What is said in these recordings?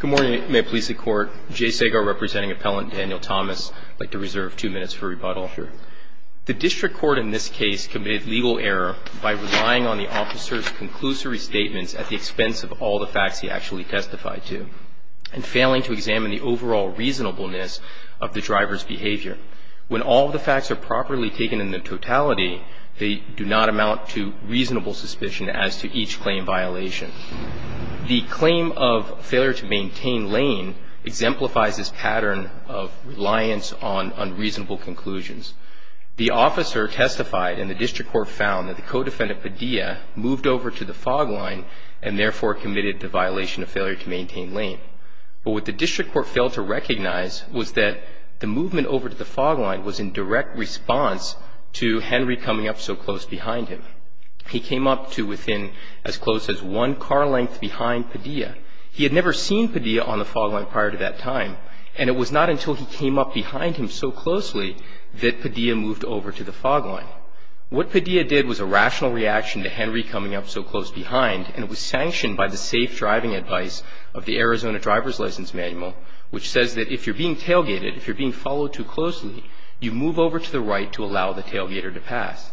Good morning, may it please the Court. Jay Segar representing Appellant Daniel Thomas. I'd like to reserve two minutes for rebuttal. The District Court in this case committed legal error by relying on the officer's conclusory statements at the expense of all the facts he actually testified to, and failing to examine the overall reasonableness of the driver's behavior. When all the facts are properly taken in the totality, they do not amount to reasonable suspicion as to each claim violation. The claim of failure to maintain lane exemplifies this pattern of reliance on unreasonable conclusions. The officer testified and the District Court found that the co-defendant Padilla moved over to the fog line and therefore committed the violation of failure to maintain lane. But what the District Court failed to recognize was that the movement over to the fog line was in direct response to Henry coming up so close behind him. He came up to within as close as one car length behind Padilla. He had never seen Padilla on the fog line prior to that time, and it was not until he came up behind him so closely that Padilla moved over to the fog line. What Padilla did was a rational reaction to Henry coming up so close behind, and it was sanctioned by the safe driving advice of the Arizona driver's license manual, which says that if you're being tailgated, if you're being followed too closely, you move over to the right to allow the tailgater to pass.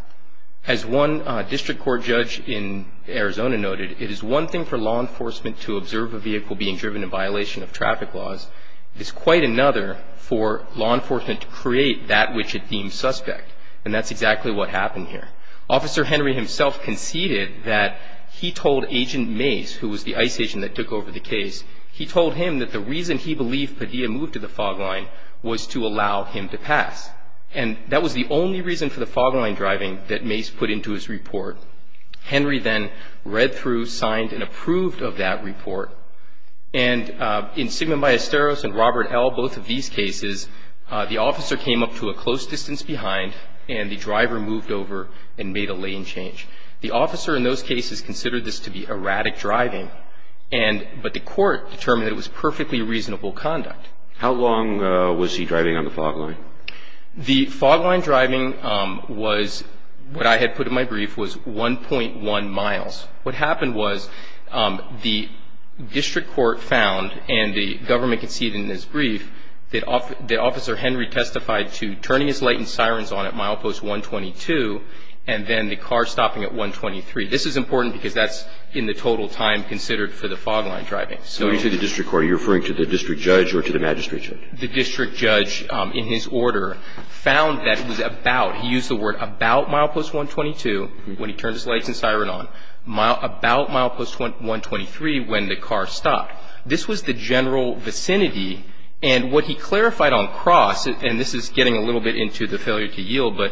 As one District Court judge in Arizona noted, it is one thing for law enforcement to observe a vehicle being driven in violation of traffic laws. It's quite another for law enforcement to create that which it deems suspect. And that's exactly what happened here. Officer Henry himself conceded that he told Agent Mace, who was the ICE agent that took over the case, he told him that the reason he believed Padilla moved to the fog line was to allow him to pass. And that was the only reason for the fog line driving that Mace put into his report. Henry then read through, signed, and approved of that report. And in Sigma Ballesteros and Robert L., both of these cases, the officer came up to a and made a lane change. The officer in those cases considered this to be erratic driving, but the court determined it was perfectly reasonable conduct. How long was he driving on the fog line? The fog line driving was, what I had put in my brief, was 1.1 miles. What happened was the District Court found, and the government conceded in brief, that Officer Henry testified to turning his lights and sirens on at milepost 122 and then the car stopping at 123. This is important because that's in the total time considered for the fog line driving. When you say the District Court, are you referring to the district judge or to the magistrate judge? The district judge, in his order, found that it was about, he used the word about milepost 122 when he turned his lights and siren on, about milepost 123 when the car stopped. This was the general vicinity. And what he clarified on cross, and this is getting a little bit into the failure to yield, but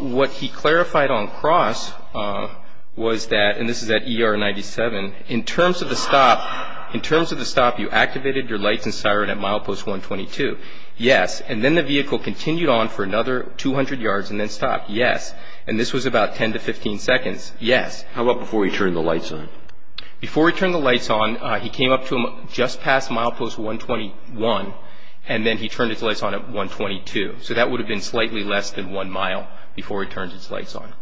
what he clarified on cross was that, and this is at ER 97, in terms of the stop, in terms of the stop, you activated your lights and siren at milepost 122. Yes. And then the vehicle continued on for another 200 yards and then stopped. Yes. And this was about 10 to 15 seconds. Yes. How about before he turned the lights on? Before he turned the lights on, he came up to just past milepost 121 and then he turned his lights on at 122. So that would have been slightly less than one mile before he turned his lights on.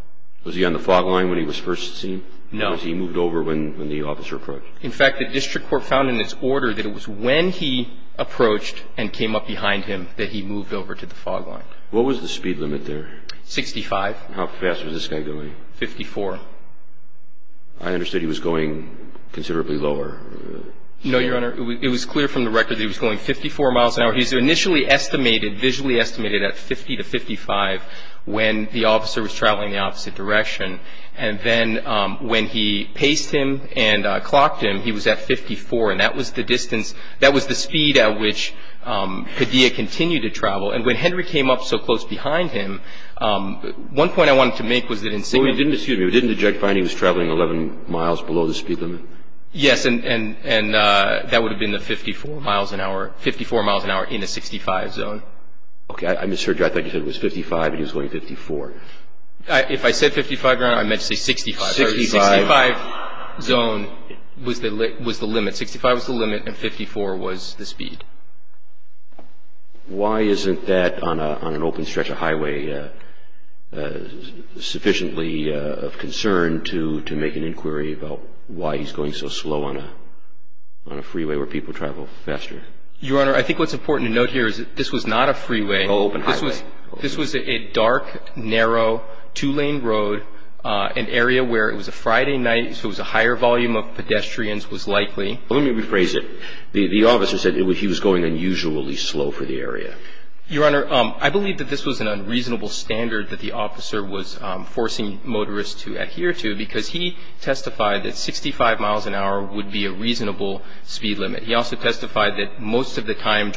Was he on the fog line when he was first seen? No. Or was he moved over when the officer approached? In fact, the District Court found in its order that it was when he approached and came up behind him that he moved over to the fog line. What was the speed limit there? 65. How fast was this guy going? 54. I understood he was going considerably lower. No, Your Honor. It was clear from the record that he was going 54 miles an hour. He was initially estimated, visually estimated, at 50 to 55 when the officer was traveling the opposite direction. And then when he paced him and clocked him, he was at 54. And that was the speed at which Padilla continued to travel. And when Henry came up so close behind him, one point I wanted to make was that in sight of him... Excuse me. Didn't the judge find he was traveling 11 miles below the speed limit? Yes. And that would have been the 54 miles an hour, 54 miles an hour in a 65 zone. Okay. I misheard you. I thought you said it was 55 and he was going 54. If I said 55, Your Honor, I meant to say 65. 65 zone was the limit. 65 was the limit and 54 was the speed. Why isn't that on an open stretch of highway sufficiently of concern to make an inquiry about why he's going so slow on a freeway where people travel faster? Your Honor, I think what's important to note here is that this was not a high volume of pedestrians. I think it was a Friday night, so it was a higher volume of pedestrians was likely. Well, let me rephrase it. The officer said he was going unusually slow for the area. Your Honor, I believe this was an unreasonable standard that the officer was forcing motorists to adhere to because he testified that 65 miles an hour would be a reasonable speed limit. He also testified that most of the time you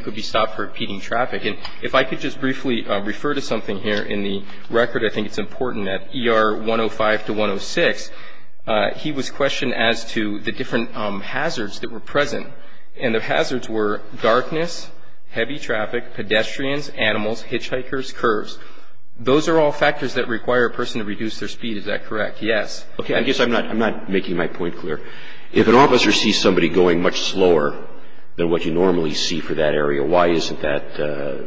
could be stopped for impeding traffic. And if I could just briefly refer to something here in the record, I think it's important that ER 105 to 106, he was questioned as to the different hazards that were present. And the hazards were darkness, heavy traffic, pedestrians, animals, hitchhikers, curves. Those are all factors that require a person to reduce their speed. Is that correct? Yes. Okay. I guess I'm not making my point clear. If an officer sees somebody going much slower than what you normally see for that area, why isn't that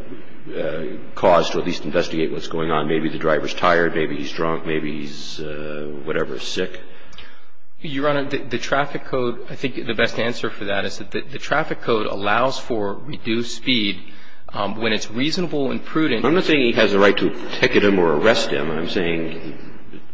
cause to at least investigate what's going on? Maybe the driver's tired, maybe he's drunk, maybe he's whatever, sick? Your Honor, the traffic code, I think the best answer for that is that the traffic code allows for reduced speed when it's reasonable and prudent. I'm not saying he has the right to ticket him or arrest him. I'm saying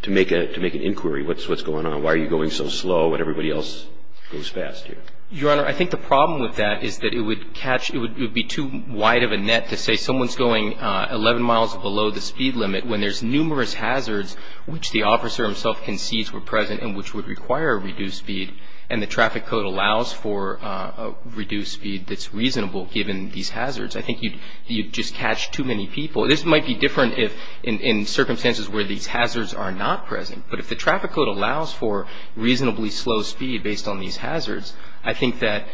to make an inquiry, what's going on? Why are you going so slow when everybody else goes fast here? Your Honor, I think the problem with that is that it would catch – it would be too wide of a net to say someone's going 11 miles below the speed limit when there's numerous hazards which the officer himself concedes were present and which would require reduced speed, and the traffic code allows for reduced speed that's reasonable given these hazards. I think you'd just catch too many people. This might be different in circumstances where these hazards are not present, but if the traffic code allows for reasonably slow speed based on these hazards, I think that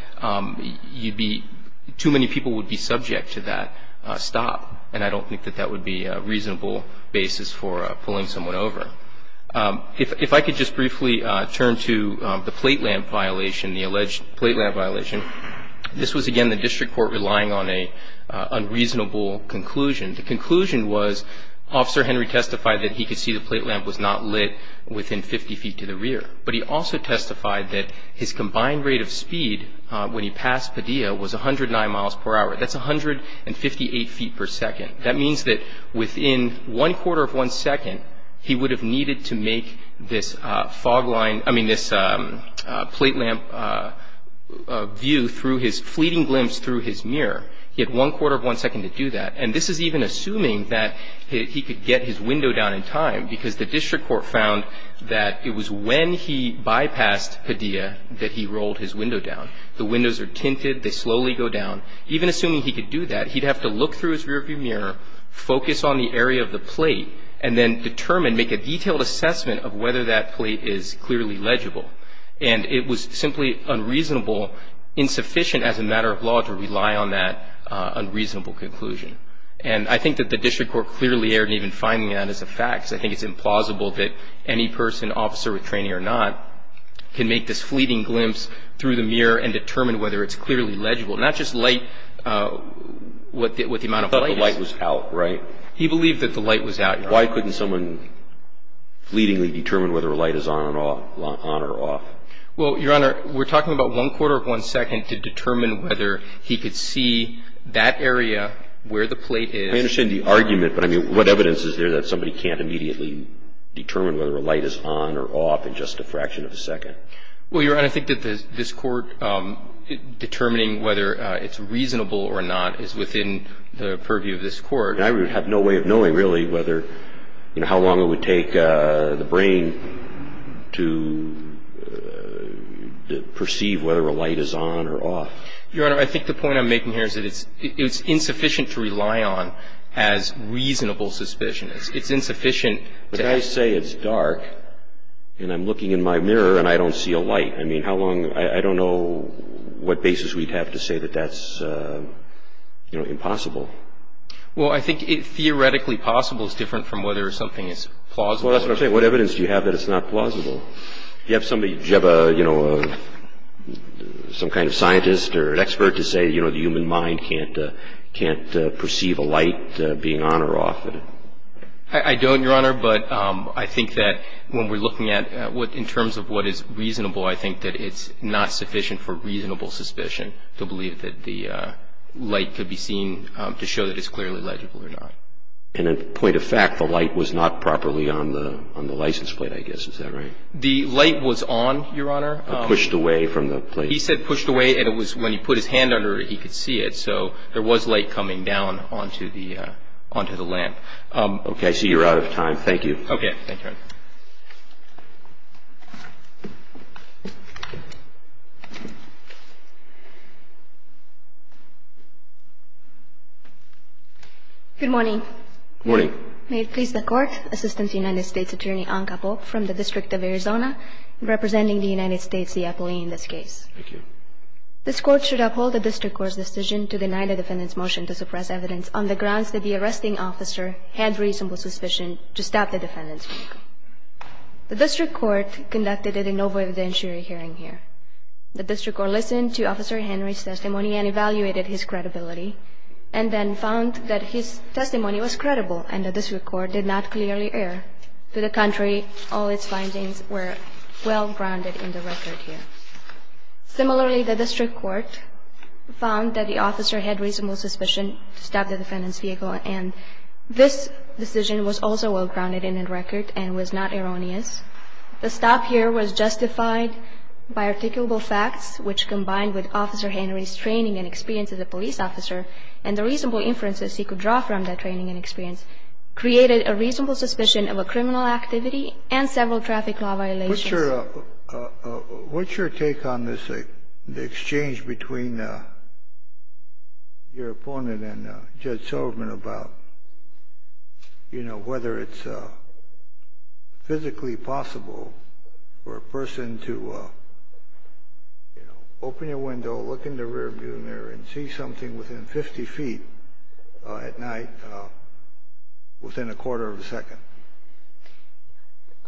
you'd be – too many people would be subject to that stop, and I don't think that that would be a reasonable basis for pulling someone over. If I could just briefly turn to the plate lamp violation, the alleged plate lamp violation. This was, again, the district court relying on an unreasonable conclusion. The conclusion was Officer Henry testified that he could see the plate lamp was not lit within 50 feet to the rear, but he also testified that his combined rate of speed when he passed Padilla was 109 miles per hour. That's 158 feet per second. That means that within one quarter of one second, he would have needed to make this fog line – I mean this plate lamp view through his fleeting glimpse through his mirror. He had one quarter of one second to do that, and this is even assuming that he could get his window down in time because the district court found that it was when he bypassed Padilla that he rolled his window down. The windows are tinted. They slowly go down. Even assuming he could do that, he'd have to look through his rearview mirror, focus on the area of the plate, and then determine, make a detailed assessment of whether that plate is clearly legible. And it was simply unreasonable, insufficient as a matter of law to rely on that unreasonable conclusion. And I think that the district court clearly erred in even finding that as a fact. I think it's implausible that any person, officer with training or not, can make this fleeting glimpse through the mirror and determine whether it's clearly legible. Not just light, what the amount of light is. He thought the light was out, right? He believed that the light was out, Your Honor. Why couldn't someone fleetingly determine whether a light is on or off? Well, Your Honor, we're talking about one quarter of one second to determine whether he could see that area where the plate is. I understand the argument, but, I mean, what evidence is there that somebody can't immediately determine whether a light is on or off in just a fraction of a second? Well, Your Honor, I think that this Court determining whether it's reasonable or not is within the purview of this Court. I would have no way of knowing, really, whether, you know, how long it would take the brain to perceive whether a light is on or off. Your Honor, I think the point I'm making here is that it's insufficient to rely on as reasonable suspicion. It's insufficient to ask. Well, I think theoretically possible is different from whether something is plausible. Well, that's what I'm saying. What evidence do you have that it's not plausible? Do you have somebody, do you have a, you know, some kind of scientist or an expert to say, you know, the human mind can't perceive a light being on or off? I think that when we're looking at in terms of what is reasonable, I think that it's not sufficient for reasonable suspicion to believe that the light could be seen to show that it's clearly legible or not. And in point of fact, the light was not properly on the license plate, I guess. Is that right? The light was on, Your Honor. It pushed away from the plate. He said pushed away, and it was when he put his hand under it, he could see it. So there was light coming down onto the lamp. Okay. I see you're out of time. Thank you. Okay. Thank you, Your Honor. Good morning. Good morning. May it please the Court, Assistant to the United States Attorney Anca Pope from the District of Arizona, representing the United States, the employee in this case. Thank you. This Court should uphold the district court's decision to deny the defendant's motion to suppress evidence on the grounds that the arresting officer had reasonable suspicion to stop the defendant's vehicle. The district court conducted a no-violence hearing here. The district court listened to Officer Henry's testimony and evaluated his credibility and then found that his testimony was credible and the district court did not clearly err. To the contrary, all its findings were well grounded in the record here. Similarly, the district court found that the officer had reasonable suspicion to stop the defendant's vehicle and this decision was also well grounded in the record and was not erroneous. The stop here was justified by articulable facts which combined with Officer Henry's training and experience as a police officer and the reasonable inferences he could draw from that training and experience created a reasonable suspicion of a criminal activity and several traffic law violations. What's your take on this, the exchange between your opponent and Judge Silverman about, you know, whether it's physically possible for a person to, you know, open a window, look in the rear view mirror and see something within 50 feet at night within a quarter of a second?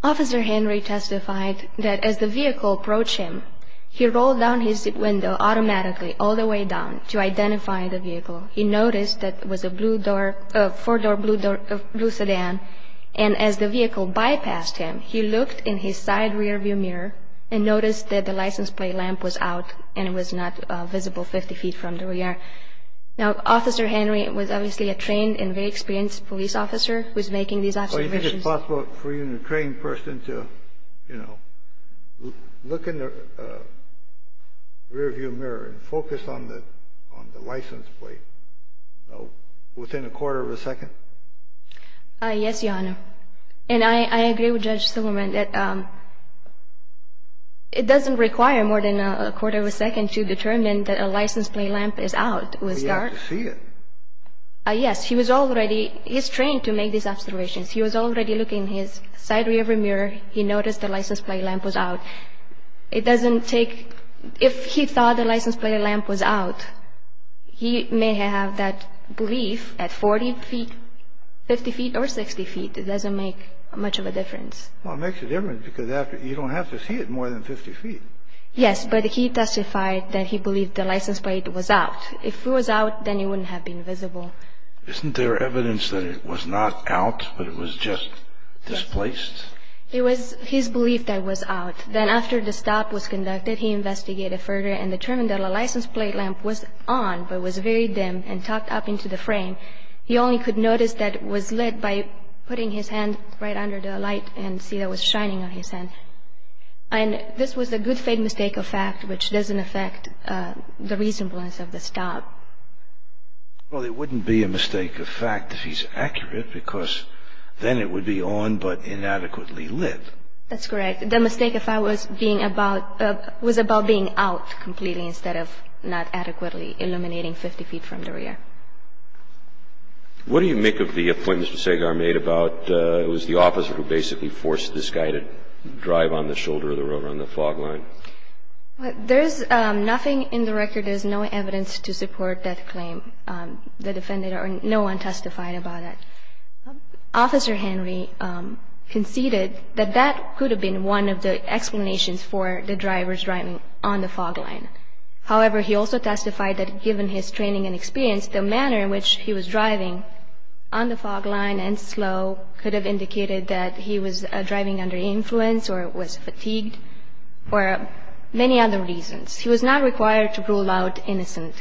Officer Henry testified that as the vehicle approached him, he rolled down his window automatically all the way down to identify the vehicle. He noticed that it was a blue door, a four-door blue sedan and as the vehicle bypassed him, he looked in his side rear view mirror and noticed that the license plate lamp was out and was not visible 50 feet from where we are. Now, Officer Henry was obviously a trained and very experienced police officer who was able to make these observations. It's possible for even a trained person to, you know, look in the rear view mirror and focus on the license plate, you know, within a quarter of a second? Yes, Your Honor. And I agree with Judge Silverman that it doesn't require more than a quarter of a second to determine that a license plate lamp is out. It was dark. He had to see it. Yes. He was already, he's trained to make these observations. He was already looking in his side rear view mirror. He noticed the license plate lamp was out. It doesn't take, if he thought the license plate lamp was out, he may have that belief at 40 feet, 50 feet or 60 feet. It doesn't make much of a difference. Well, it makes a difference because you don't have to see it more than 50 feet. Yes, but he testified that he believed the license plate was out. If it was out, then it wouldn't have been visible. Isn't there evidence that it was not out but it was just displaced? It was his belief that it was out. Then after the stop was conducted, he investigated further and determined that the license plate lamp was on but was very dim and tucked up into the frame. He only could notice that it was lit by putting his hand right under the light and see that it was shining on his hand. And this was a good faith mistake of fact which doesn't affect the reasonableness of the stop. Well, it wouldn't be a mistake of fact if he's accurate because then it would be on but inadequately lit. That's correct. The mistake of fact was about being out completely instead of not adequately illuminating 50 feet from the rear. What do you make of the point Mr. Segar made about it was the officer who basically forced this guy to drive on the shoulder of the road on the fog line? There's nothing in the record. There's no evidence to support that claim. The defendant or no one testified about it. Officer Henry conceded that that could have been one of the explanations for the driver's driving on the fog line. However, he also testified that given his training and experience, the manner in which he was driving on the fog line and slow could have indicated that he was driving under influence or was fatigued or many other reasons. He was not required to rule out innocent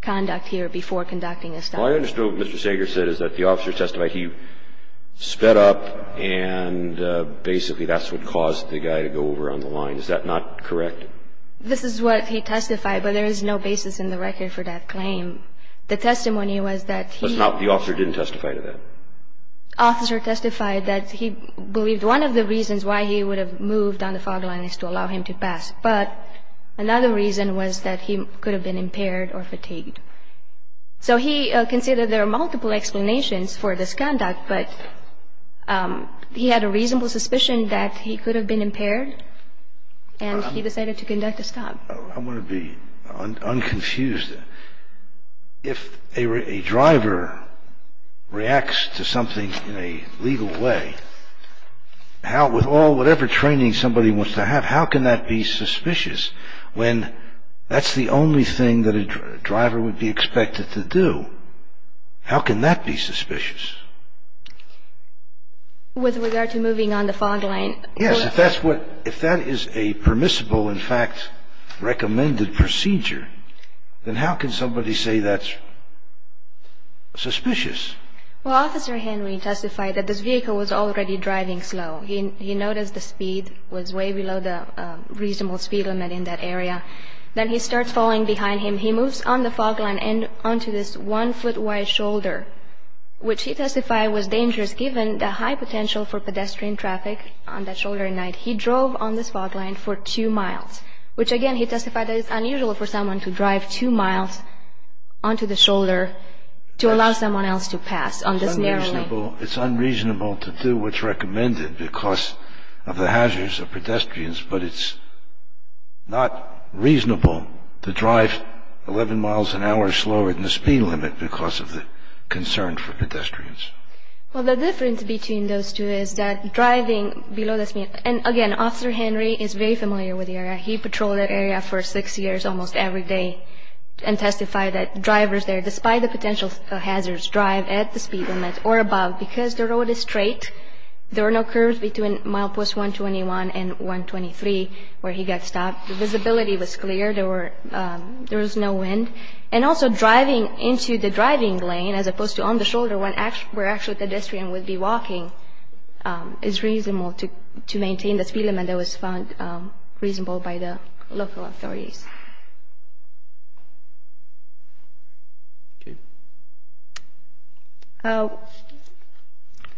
conduct here before conducting a stop. All I understood what Mr. Segar said is that the officer testified he sped up and basically that's what caused the guy to go over on the line. Is that not correct? This is what he testified, but there is no basis in the record for that claim. The testimony was that he was not. The officer didn't testify to that. The officer testified that he believed one of the reasons why he would have moved on the fog line is to allow him to pass. But another reason was that he could have been impaired or fatigued. So he considered there are multiple explanations for this conduct, but he had a reasonable suspicion that he could have been impaired, and he decided to conduct a stop. I want to be unconfused. If a driver reacts to something in a legal way, with all whatever training somebody wants to have, how can that be suspicious when that's the only thing that a driver would be expected to do? How can that be suspicious? With regard to moving on the fog line? Yes. If that is a permissible, in fact, recommended procedure, then how can somebody say that's suspicious? Well, Officer Henry testified that this vehicle was already driving slow. He noticed the speed was way below the reasonable speed limit in that area. Then he starts falling behind him. He moves on the fog line and onto this one-foot wide shoulder, which he testified was dangerous given the high potential for pedestrian traffic on that shoulder. He drove on the fog line for two miles, which again he testified is unusual for someone to drive two miles onto the shoulder to allow someone else to pass on this narrow lane. It's unreasonable to do what's recommended because of the hazards of pedestrians, but it's not reasonable to drive 11 miles an hour slower than the speed limit because of the concern for pedestrians. Well, the difference between those two is that driving below the speed limit, and again, Officer Henry is very familiar with the area. He patrolled that area for six years almost every day and testified that drivers there, despite the potential hazards, drive at the speed limit or above because the road is straight. There were no curves between milepost 121 and 123 where he got stopped. The visibility was clear. There was no wind. And also driving into the driving lane as opposed to on the shoulder where actually pedestrian would be walking is reasonable to maintain the speed limit that was found reasonable by the local authorities.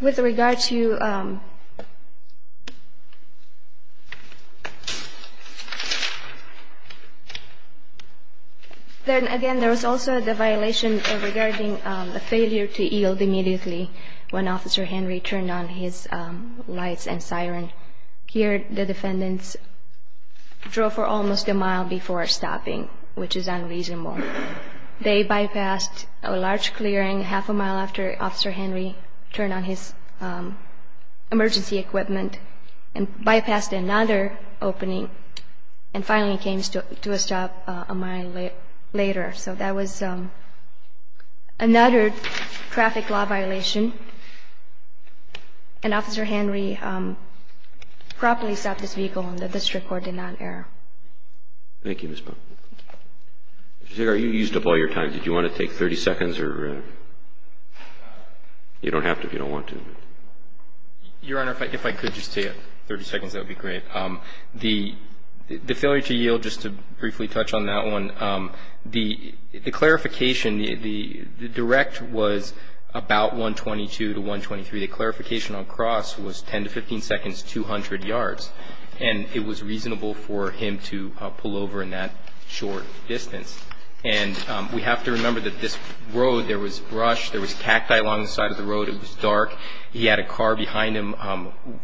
With regard to – then again, there was also the violation regarding a failure to yield immediately when Officer Henry turned on his lights and siren. And here the defendants drove for almost a mile before stopping, which is unreasonable. They bypassed a large clearing half a mile after Officer Henry turned on his emergency equipment and bypassed another opening and finally came to a stop a mile later. So that was another traffic law violation. And Officer Henry properly stopped his vehicle and the district court did not err. Thank you, Ms. Powell. Mr. Zagar, you used up all your time. Did you want to take 30 seconds or you don't have to if you don't want to? Your Honor, if I could just take 30 seconds, that would be great. The failure to yield, just to briefly touch on that one, the clarification, the direct was about 122 to 123. The clarification on cross was 10 to 15 seconds, 200 yards. And it was reasonable for him to pull over in that short distance. And we have to remember that this road, there was brush, there was cacti along the side of the road. It was dark. He had a car behind him.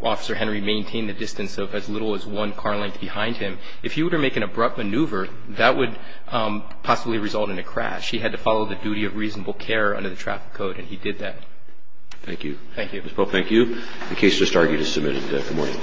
Officer Henry maintained the distance of as little as one car length behind him. If he were to make an abrupt maneuver, that would possibly result in a crash. He had to follow the duty of reasonable care under the traffic code, and he did that. Thank you. Thank you. Ms. Powell, thank you. The case just argued is submitted. Good morning.